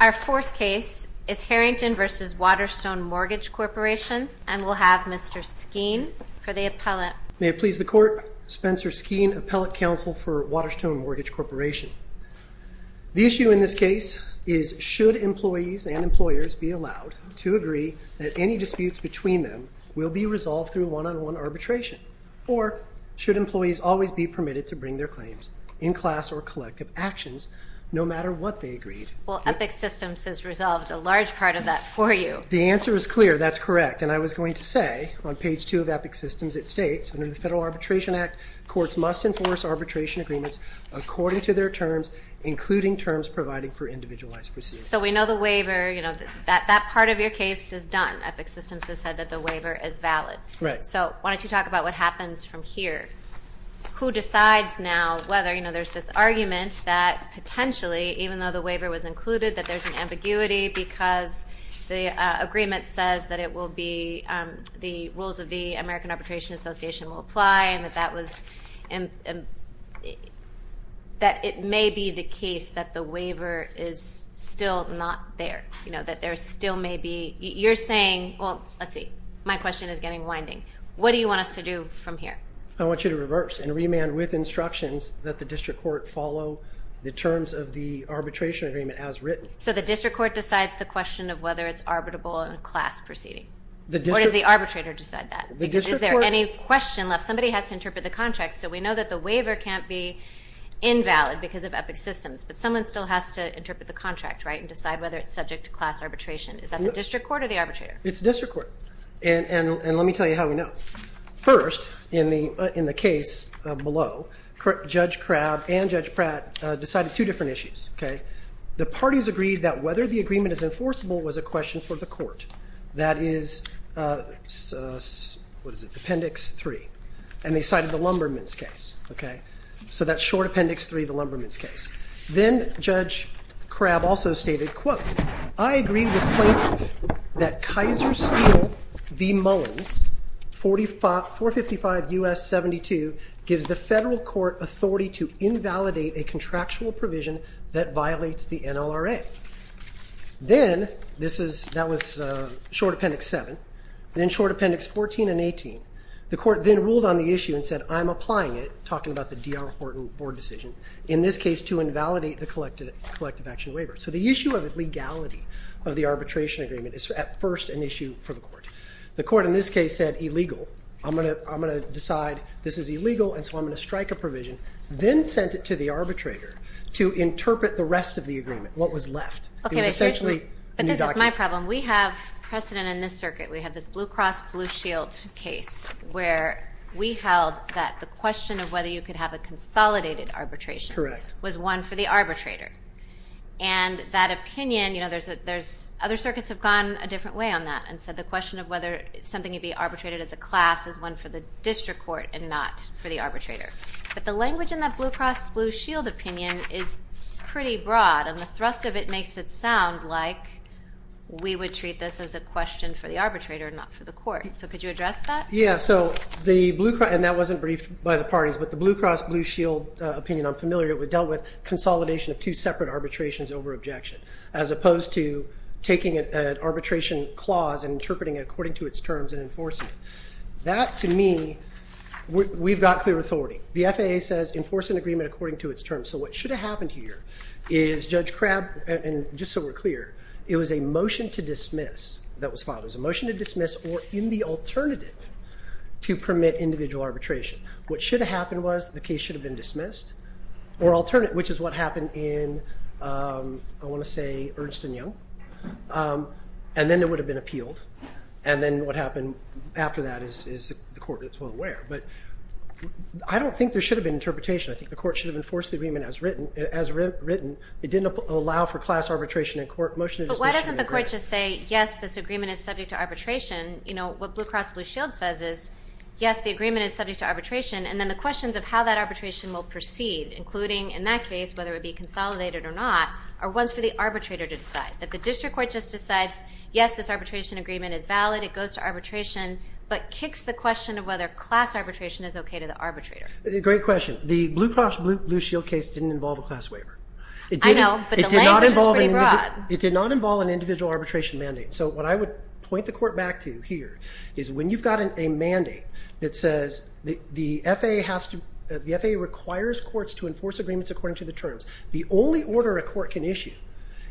Our fourth case is Herrington v. Waterstone Mortgage Corporation, and we'll have Mr. Skeen for the appellate. May it please the Court, Spencer Skeen, Appellate Counsel for Waterstone Mortgage Corporation. The issue in this case is, should employees and employers be allowed to agree that any disputes between them will be resolved through one-on-one arbitration? Or, should employees always be permitted to bring their claims in class or collective actions, no matter what they agreed? Well, EPIC Systems has resolved a large part of that for you. The answer is clear. That's correct. And I was going to say, on page 2 of EPIC Systems, it states, under the Federal Arbitration Act, courts must enforce arbitration agreements according to their terms, including terms providing for individualized proceedings. So we know the waiver, you know, that part of your case is done. EPIC Systems has said that the waiver is valid. Right. So why don't you talk about what happens from here. Who decides now whether, you know, there's this argument that potentially, even though the waiver was included, that there's an ambiguity because the agreement says that it will be, the rules of the American Arbitration Association will apply and that that was, that it may be the case that the waiver is still not there. You know, that there still may be, you're saying, well, let's see, my question is getting winding. What do you want us to do from here? I want you to reverse and remand with instructions that the district court follow the terms of the arbitration agreement as written. So the district court decides the question of whether it's arbitrable in a class proceeding? Or does the arbitrator decide that? Is there any question left? Somebody has to interpret the contract. So we know that the waiver can't be invalid because of EPIC Systems, but someone still has to interpret the contract, right, and decide whether it's subject to class arbitration. Is that the district court or the arbitrator? It's the district court. And let me tell you how we know. First, in the case below, Judge Crabb and Judge Pratt decided two different issues. The parties agreed that whether the agreement is enforceable was a question for the court. That is Appendix 3. And they cited the Lumberman's case. So that's short Appendix 3, the Lumberman's case. Then Judge Crabb also stated, quote, I agree with the plaintiff that Kaiser Steel v. Mullins, 455 U.S. 72, gives the federal court authority to invalidate a contractual provision that violates the NLRA. Then that was short Appendix 7, then short Appendix 14 and 18. The court then ruled on the issue and said, I'm applying it, talking about the DR Horton board decision, in this case to invalidate the collective action waiver. So the issue of legality of the arbitration agreement is at first an issue for the court. The court in this case said, illegal. I'm going to decide this is illegal, and so I'm going to strike a provision. Then sent it to the arbitrator to interpret the rest of the agreement, what was left. It was essentially a new document. But this is my problem. We have precedent in this circuit. We have this Blue Cross Blue Shield case where we held that the question of whether you could have a consolidated arbitration was one for the arbitrator. And that opinion, you know, there's other circuits have gone a different way on that and said the question of whether something could be arbitrated as a class is one for the district court and not for the arbitrator. But the language in that Blue Cross Blue Shield opinion is pretty broad, and the thrust of it makes it sound like we would treat this as a question for the arbitrator and not for the court. So could you address that? Yeah, so the Blue Cross, and that wasn't briefed by the parties, but the Blue Cross Blue Shield opinion, I'm familiar with, dealt with consolidation of two separate arbitrations over objection as opposed to taking an arbitration clause and interpreting it according to its terms and enforcing it. That, to me, we've got clear authority. The FAA says enforce an agreement according to its terms. So what should have happened here is Judge Crabb, and just so we're clear, it was a motion to dismiss that was filed. It was a motion to dismiss or in the alternative to permit individual arbitration. What should have happened was the case should have been dismissed or alternate, which is what happened in, I want to say, Ernst and Young, and then it would have been appealed. And then what happened after that is the court is well aware. But I don't think there should have been interpretation. I think the court should have enforced the agreement as written. It didn't allow for class arbitration in court. But why doesn't the court just say, yes, this agreement is subject to arbitration? You know, what Blue Cross Blue Shield says is, yes, the agreement is subject to arbitration, and then the questions of how that arbitration will proceed, including, in that case, whether it would be consolidated or not, are ones for the arbitrator to decide. That the district court just decides, yes, this arbitration agreement is valid, it goes to arbitration, but kicks the question of whether class arbitration is okay to the arbitrator. Great question. The Blue Cross Blue Shield case didn't involve a class waiver. I know, but the language was pretty broad. It did not involve an individual arbitration mandate. So what I would point the court back to here is when you've got a mandate that says the FAA requires courts to enforce agreements according to the terms, the only order a court can issue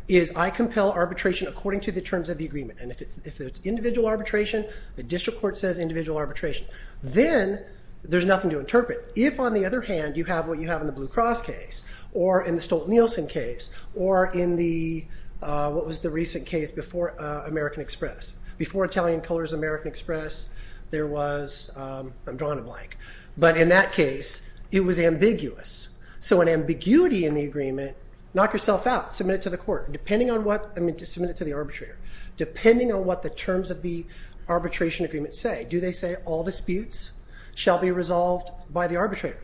is I compel arbitration according to the terms of the agreement. And if it's individual arbitration, the district court says individual arbitration. Then there's nothing to interpret. If, on the other hand, you have what you have in the Blue Cross case, or in the Stolt-Nielsen case, or in the, what was the recent case before American Express? Before Italian Colors American Express, there was, I'm drawing a blank. But in that case, it was ambiguous. So an ambiguity in the agreement, knock yourself out. Submit it to the court. Depending on what, submit it to the arbitrator. Depending on what the terms of the arbitration agreement say. Do they say all disputes shall be resolved by the arbitrator?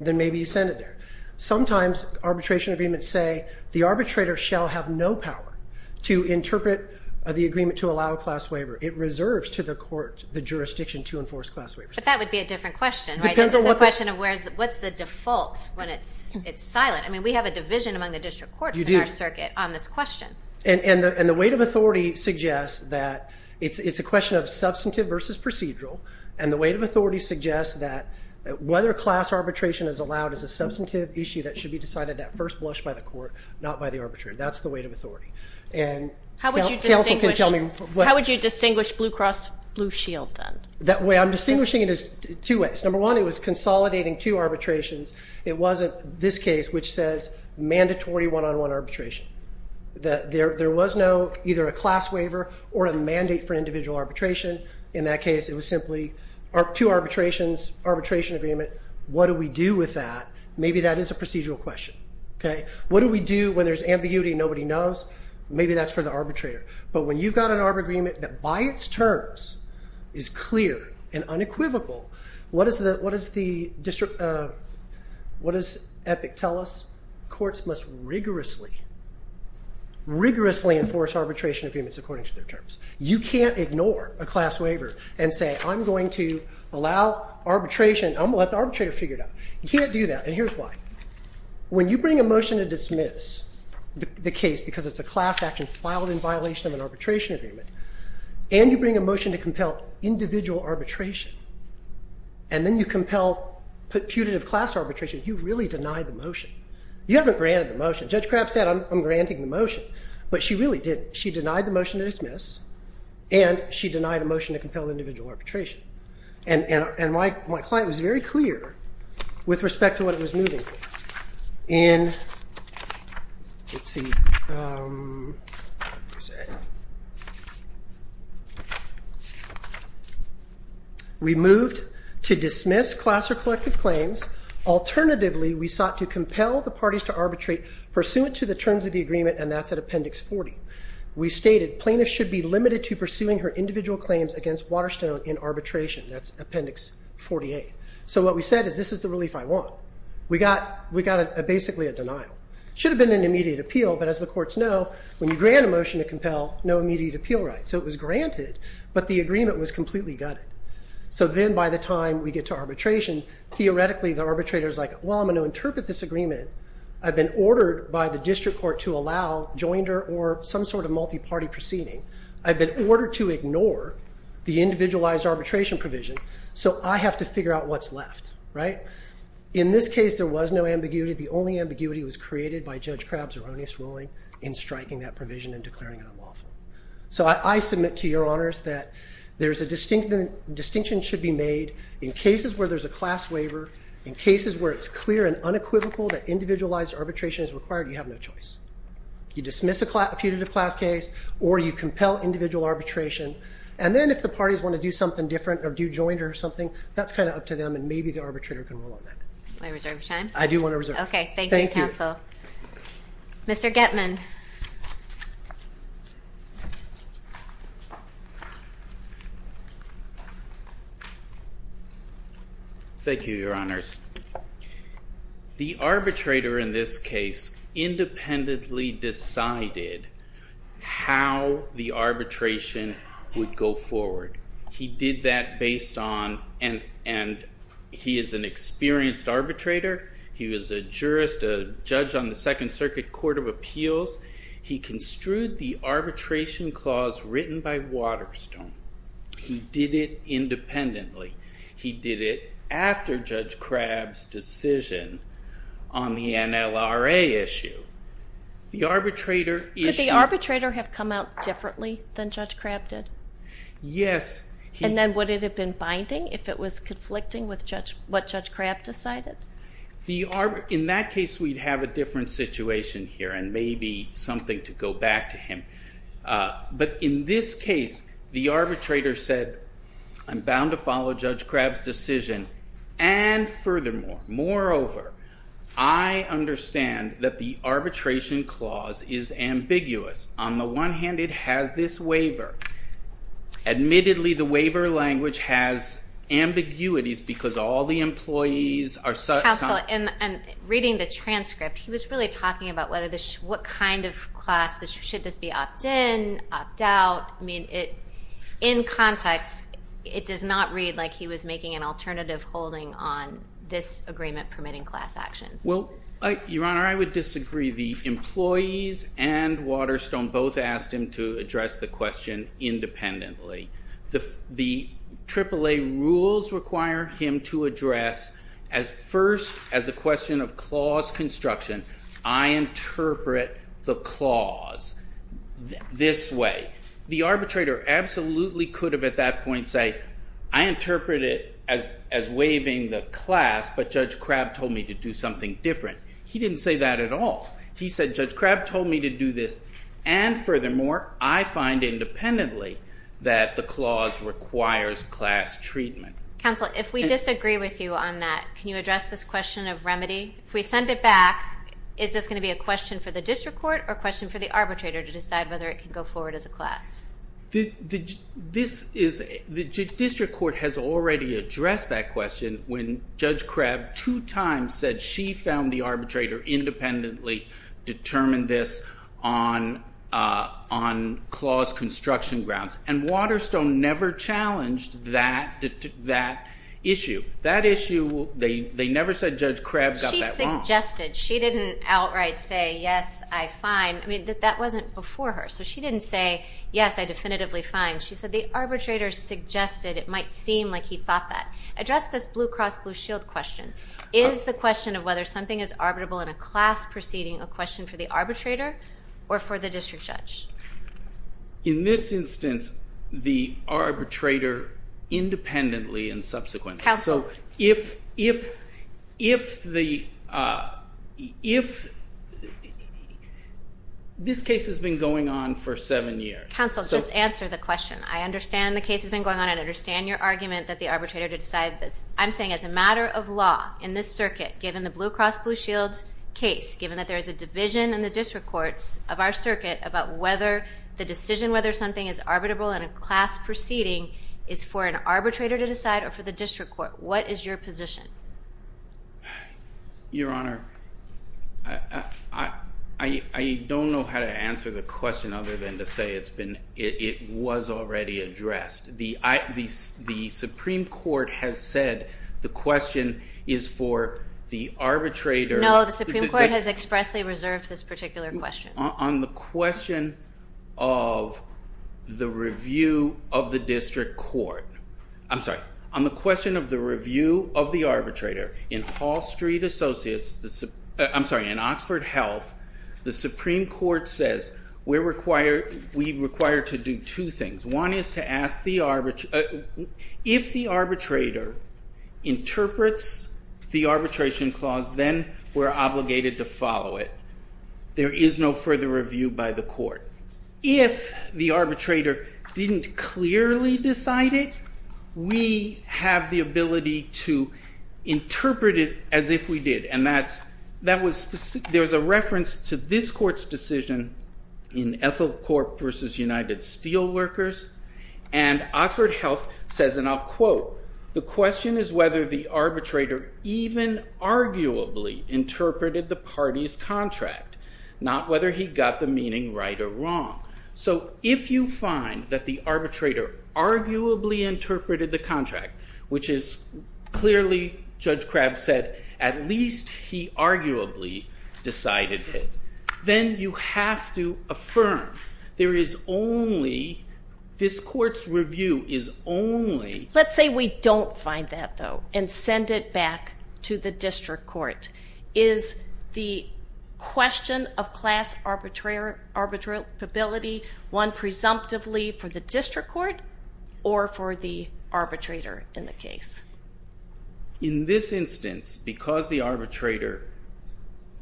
Then maybe you send it there. Sometimes arbitration agreements say the arbitrator shall have no power to interpret the agreement to allow a class waiver. It reserves to the court the jurisdiction to enforce class waivers. But that would be a different question, right? Depends on what the- This is the question of what's the default when it's silent. I mean, we have a division among the district courts in our circuit on this question. And the weight of authority suggests that it's a question of substantive versus procedural. And the weight of authority suggests that whether class arbitration is allowed is a substantive issue that should be decided at first blush by the court, not by the arbitrator. That's the weight of authority. And counsel can tell me- How would you distinguish Blue Cross Blue Shield then? I'm distinguishing it as two ways. Number one, it was consolidating two arbitrations. It wasn't this case, which says mandatory one-on-one arbitration. There was no either a class waiver or a mandate for individual arbitration. In that case, it was simply two arbitrations, arbitration agreement. What do we do with that? Maybe that is a procedural question. What do we do when there's ambiguity and nobody knows? Maybe that's for the arbitrator. But when you've got an arbitration agreement that by its terms is clear and unequivocal, what does EPIC tell us? Courts must rigorously, rigorously enforce arbitration agreements according to their terms. You can't ignore a class waiver and say, I'm going to allow arbitration. I'm going to let the arbitrator figure it out. You can't do that, and here's why. When you bring a motion to dismiss the case because it's a class action filed in violation of an arbitration agreement, and you bring a motion to compel individual arbitration, and then you compel putative class arbitration, you really deny the motion. You haven't granted the motion. Judge Crabb said, I'm granting the motion. But she really didn't. She denied the motion to dismiss, and she denied a motion to compel individual arbitration. And my client was very clear with respect to what it was moving. We moved to dismiss class or collective claims. Alternatively, we sought to compel the parties to arbitrate pursuant to the terms of the agreement, and that's at Appendix 40. We stated plaintiffs should be limited to pursuing her individual claims against Waterstone in arbitration. That's Appendix 48. So what we said is this is the relief I want. We got basically a denial. It should have been an immediate appeal, but as the courts know, when you grant a motion to compel, no immediate appeal right. So it was granted, but the agreement was completely gutted. So then by the time we get to arbitration, theoretically the arbitrator is like, well, I'm going to interpret this agreement. I've been ordered by the district court to allow jointer or some sort of multi-party proceeding. I've been ordered to ignore the individualized arbitration provision, so I have to figure out what's left, right. In this case, there was no ambiguity. The only ambiguity was created by Judge Crabb's erroneous ruling in striking that provision and declaring it unlawful. So I submit to your honors that there's a distinction that should be made in cases where there's a class waiver, in cases where it's clear and unequivocal that individualized arbitration is required, you have no choice. You dismiss a putative class case or you compel individual arbitration, and then if the parties want to do something different or do jointer or something, that's kind of up to them and maybe the arbitrator can rule on that. Do I reserve your time? I do want to reserve it. Okay, thank you, counsel. Mr. Getman. Thank you, your honors. The arbitrator in this case independently decided how the arbitration would go forward. He did that based on, and he is an experienced arbitrator, he was a jurist, a judge on the Second Circuit Court of Appeals, he construed the arbitration clause written by Waterstone. He did it independently. He did it after Judge Crabb's decision on the NLRA issue. Could the arbitrator have come out differently than Judge Crabb did? Yes. And then would it have been binding if it was conflicting with what Judge Crabb decided? In that case, we'd have a different situation here and maybe something to go back to him. But in this case, the arbitrator said, I'm bound to follow Judge Crabb's decision, and furthermore, moreover, I understand that the arbitration clause is ambiguous. On the one hand, it has this waiver. Admittedly, the waiver language has ambiguities because all the employees are such. Counsel, in reading the transcript, he was really talking about what kind of class, should this be opt-in, opt-out? In context, it does not read like he was making an alternative holding on this agreement permitting class actions. Your Honor, I would disagree. The employees and Waterstone both asked him to address the question independently. The AAA rules require him to address first as a question of clause construction. I interpret the clause this way. The arbitrator absolutely could have at that point said, I interpret it as waiving the class, but Judge Crabb told me to do something different. He didn't say that at all. He said, Judge Crabb told me to do this, and furthermore, I find independently that the clause requires class treatment. Counsel, if we disagree with you on that, can you address this question of remedy? If we send it back, is this going to be a question for the district court or a question for the arbitrator to decide whether it can go forward as a class? The district court has already addressed that question when Judge Crabb two times said she found the arbitrator independently determined this on clause construction grounds, and Waterstone never challenged that issue. That issue, they never said Judge Crabb got that wrong. She suggested. She didn't outright say, yes, I find. I mean, that wasn't before her. So she didn't say, yes, I definitively find. She said the arbitrator suggested it might seem like he thought that. Address this Blue Cross Blue Shield question. Is the question of whether something is arbitrable in a class proceeding a question for the arbitrator or for the district judge? In this instance, the arbitrator independently and subsequently. Counsel. So if this case has been going on for seven years. Counsel, just answer the question. I understand the case has been going on. I understand your argument that the arbitrator to decide this. I'm saying as a matter of law in this circuit, given the Blue Cross Blue Shield case, given that there is a division in the district courts of our circuit about whether the decision whether something is arbitrable in a class proceeding is for an arbitrator to decide or for the district court, what is your position? Your Honor, I don't know how to answer the question other than to say it was already addressed. The Supreme Court has said the question is for the arbitrator. No, the Supreme Court has expressly reserved this particular question. On the question of the review of the district court. I'm sorry, on the question of the review of the arbitrator in Hall Street Associates, I'm sorry, in Oxford Health, the Supreme Court says we require to do two things. One is to ask the arbitrator. If the arbitrator interprets the arbitration clause, then we're obligated to follow it. There is no further review by the court. If the arbitrator didn't clearly decide it, we have the ability to interpret it as if we did. There's a reference to this court's decision in Ethel Corp versus United Steelworkers, and Oxford Health says, and I'll quote, the question is whether the arbitrator even arguably interpreted the party's contract, not whether he got the meaning right or wrong. So if you find that the arbitrator arguably interpreted the contract, which is clearly, Judge Crabb said, at least he arguably decided it, then you have to affirm there is only, this court's review is only... Let's say we don't find that, though, and send it back to the district court. Is the question of class arbitrability one presumptively for the district court or for the arbitrator in the case? In this instance, because the arbitrator...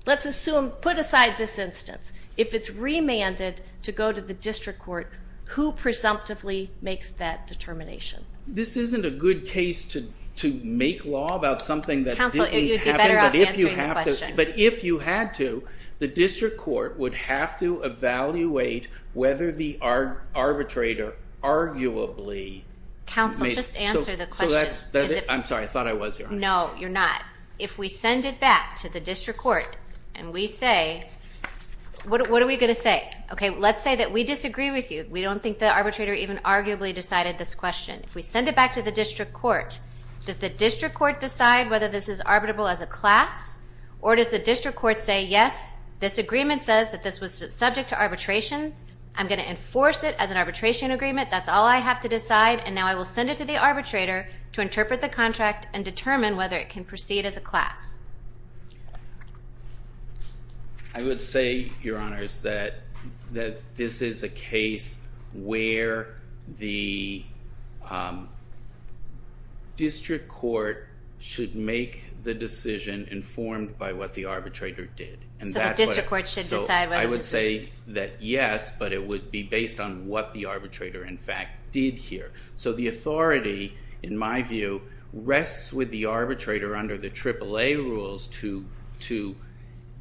Let's assume, put aside this instance. If it's remanded to go to the district court, who presumptively makes that determination? This isn't a good case to make law about something that didn't happen. But if you had to, the district court would have to evaluate whether the arbitrator arguably... Counsel, just answer the question. I'm sorry, I thought I was. No, you're not. If we send it back to the district court and we say... What are we going to say? Let's say that we disagree with you. We don't think the arbitrator even arguably decided this question. If we send it back to the district court, does the district court decide whether this is arbitrable as a class or does the district court say, yes, this agreement says that this was subject to arbitration, I'm going to enforce it as an arbitration agreement, that's all I have to decide, and now I will send it to the arbitrator to interpret the contract and determine whether it can proceed as a class. I would say, Your Honors, that this is a case where the district court should make the decision informed by what the arbitrator did. So the district court should decide whether this is... I would say that, yes, but it would be based on what the arbitrator, in fact, did here. So the authority, in my view, rests with the arbitrator under the AAA rules to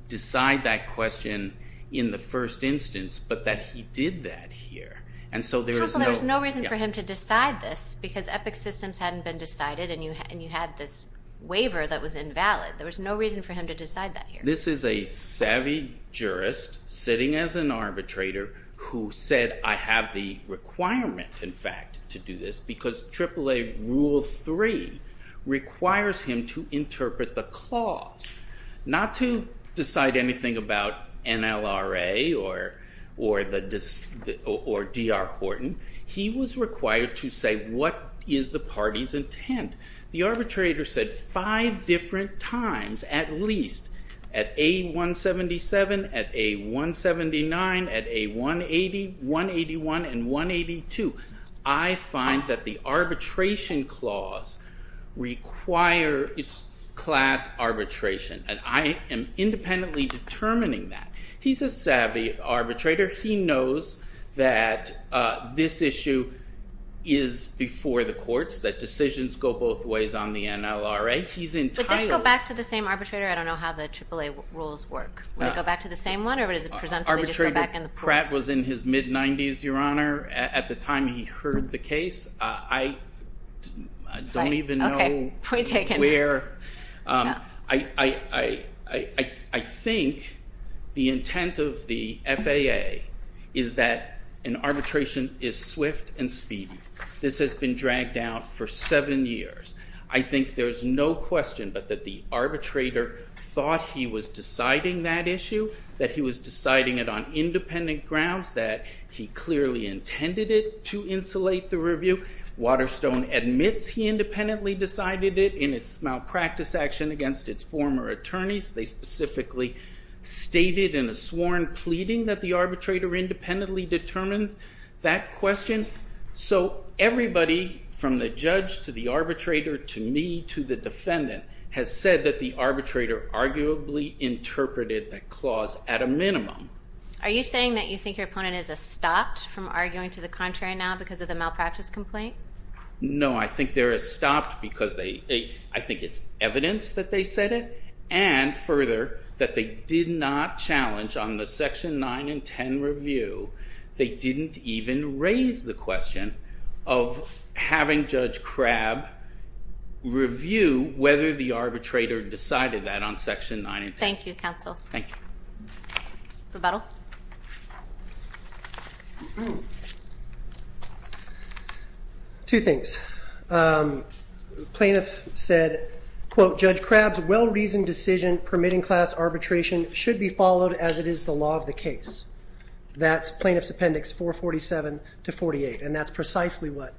decide that question in the first instance, but that he did that here. Counsel, there was no reason for him to decide this because Epic Systems hadn't been decided and you had this waiver that was invalid. There was no reason for him to decide that here. This is a savvy jurist sitting as an arbitrator who said, I have the requirement, in fact, to do this because AAA Rule 3 requires him to interpret the clause, not to decide anything about NLRA or D.R. Horton. He was required to say what is the party's intent. The arbitrator said five different times, at least at A177, at A179, at A180, 181, and 182. I find that the arbitration clause requires class arbitration and I am independently determining that. He's a savvy arbitrator. He knows that this issue is before the courts, that decisions go both ways on the NLRA. Would this go back to the same arbitrator? I don't know how the AAA rules work. Would it go back to the same one or does it presumptively just go back in the pool? Arbitrator Pratt was in his mid-90s, Your Honor. At the time he heard the case, I don't even know where. I think the intent of the FAA is that an arbitration is swift and speedy. This has been dragged out for seven years. I think there's no question but that the arbitrator thought he was deciding that issue, that he was deciding it on independent grounds, that he clearly intended it to insulate the review. Waterstone admits he independently decided it in its malpractice action against its former attorneys. They specifically stated in a sworn pleading that the arbitrator independently determined that question. So everybody from the judge to the arbitrator to me to the defendant has said that the arbitrator arguably interpreted the clause at a minimum. Are you saying that you think your opponent has stopped from arguing to the contrary now because of the malpractice complaint? No, I think they're stopped because I think it's evidence that they said it and further that they did not challenge on the Section 9 and 10 review. They didn't even raise the question of having Judge Crabb review whether the arbitrator decided that on Section 9 and 10. Thank you, counsel. Thank you. Rebuttal. Two things. Plaintiff said, quote, Judge Crabb's well-reasoned decision permitting class arbitration should be followed as it is the law of the case. That's plaintiff's appendix 447 to 48 and that's precisely what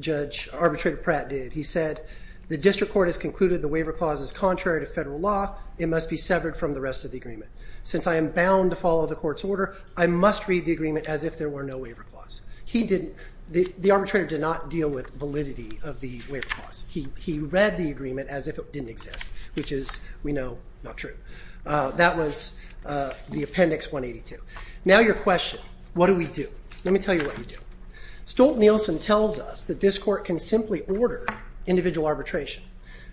Judge Arbitrator Pratt did. He said the district court has concluded the waiver clause is contrary to federal law. It must be severed from the rest of the agreement. Since I am bound to follow the court's order, I must read the agreement as if there were no waiver clause. He didn't. The arbitrator did not deal with validity of the waiver clause. He read the agreement as if it didn't exist, which is, we know, not true. That was the appendix 182. Now your question, what do we do? Let me tell you what we do. Stolt-Nielsen tells us that this court can simply order individual arbitration.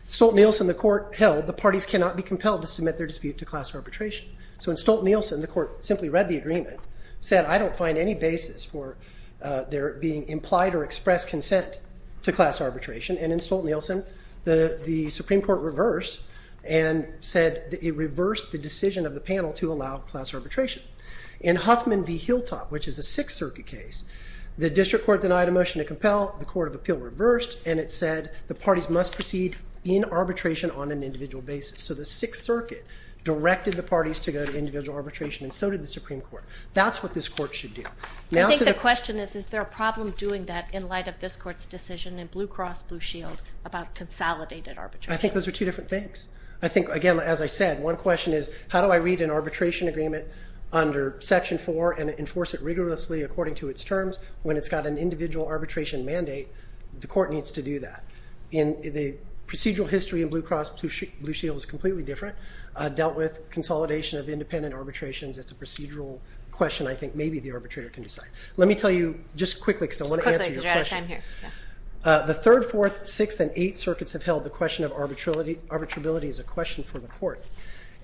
Stolt-Nielsen, the court held the parties cannot be compelled to submit their dispute to class arbitration. So in Stolt-Nielsen, the court simply read the agreement, said I don't find any basis for there being implied or expressed consent to class arbitration. And in Stolt-Nielsen, the Supreme Court reversed and said it reversed the decision of the panel to allow class arbitration. In Huffman v. Hilltop, which is a Sixth Circuit case, the district court denied a motion to compel, the court of appeal reversed, and it said the parties must proceed in arbitration on an individual basis. So the Sixth Circuit directed the parties to go to individual arbitration, and so did the Supreme Court. That's what this court should do. I think the question is, is there a problem doing that in light of this court's decision in Blue Cross Blue Shield about consolidated arbitration? I think those are two different things. I think, again, as I said, one question is, how do I read an arbitration agreement under Section 4 and enforce it rigorously according to its terms when it's got an individual arbitration mandate? The court needs to do that. In the procedural history in Blue Cross Blue Shield, it was completely different. It dealt with consolidation of independent arbitrations. It's a procedural question I think maybe the arbitrator can decide. Let me tell you just quickly because I want to answer your question. Just quickly because you're out of time here. The Third, Fourth, Sixth, and Eighth Circuits have held the question of arbitrability as a question for the court.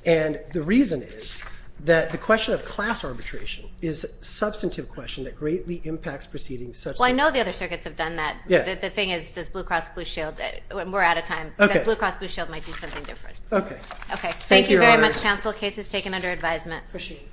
And the reason is that the question of class arbitration is a substantive question that greatly impacts proceedings. Well, I know the other circuits have done that. The thing is, Blue Cross Blue Shield, we're out of time. Blue Cross Blue Shield might do something different. Okay. Thank you very much, counsel. Case is taken under advisement. Appreciate it.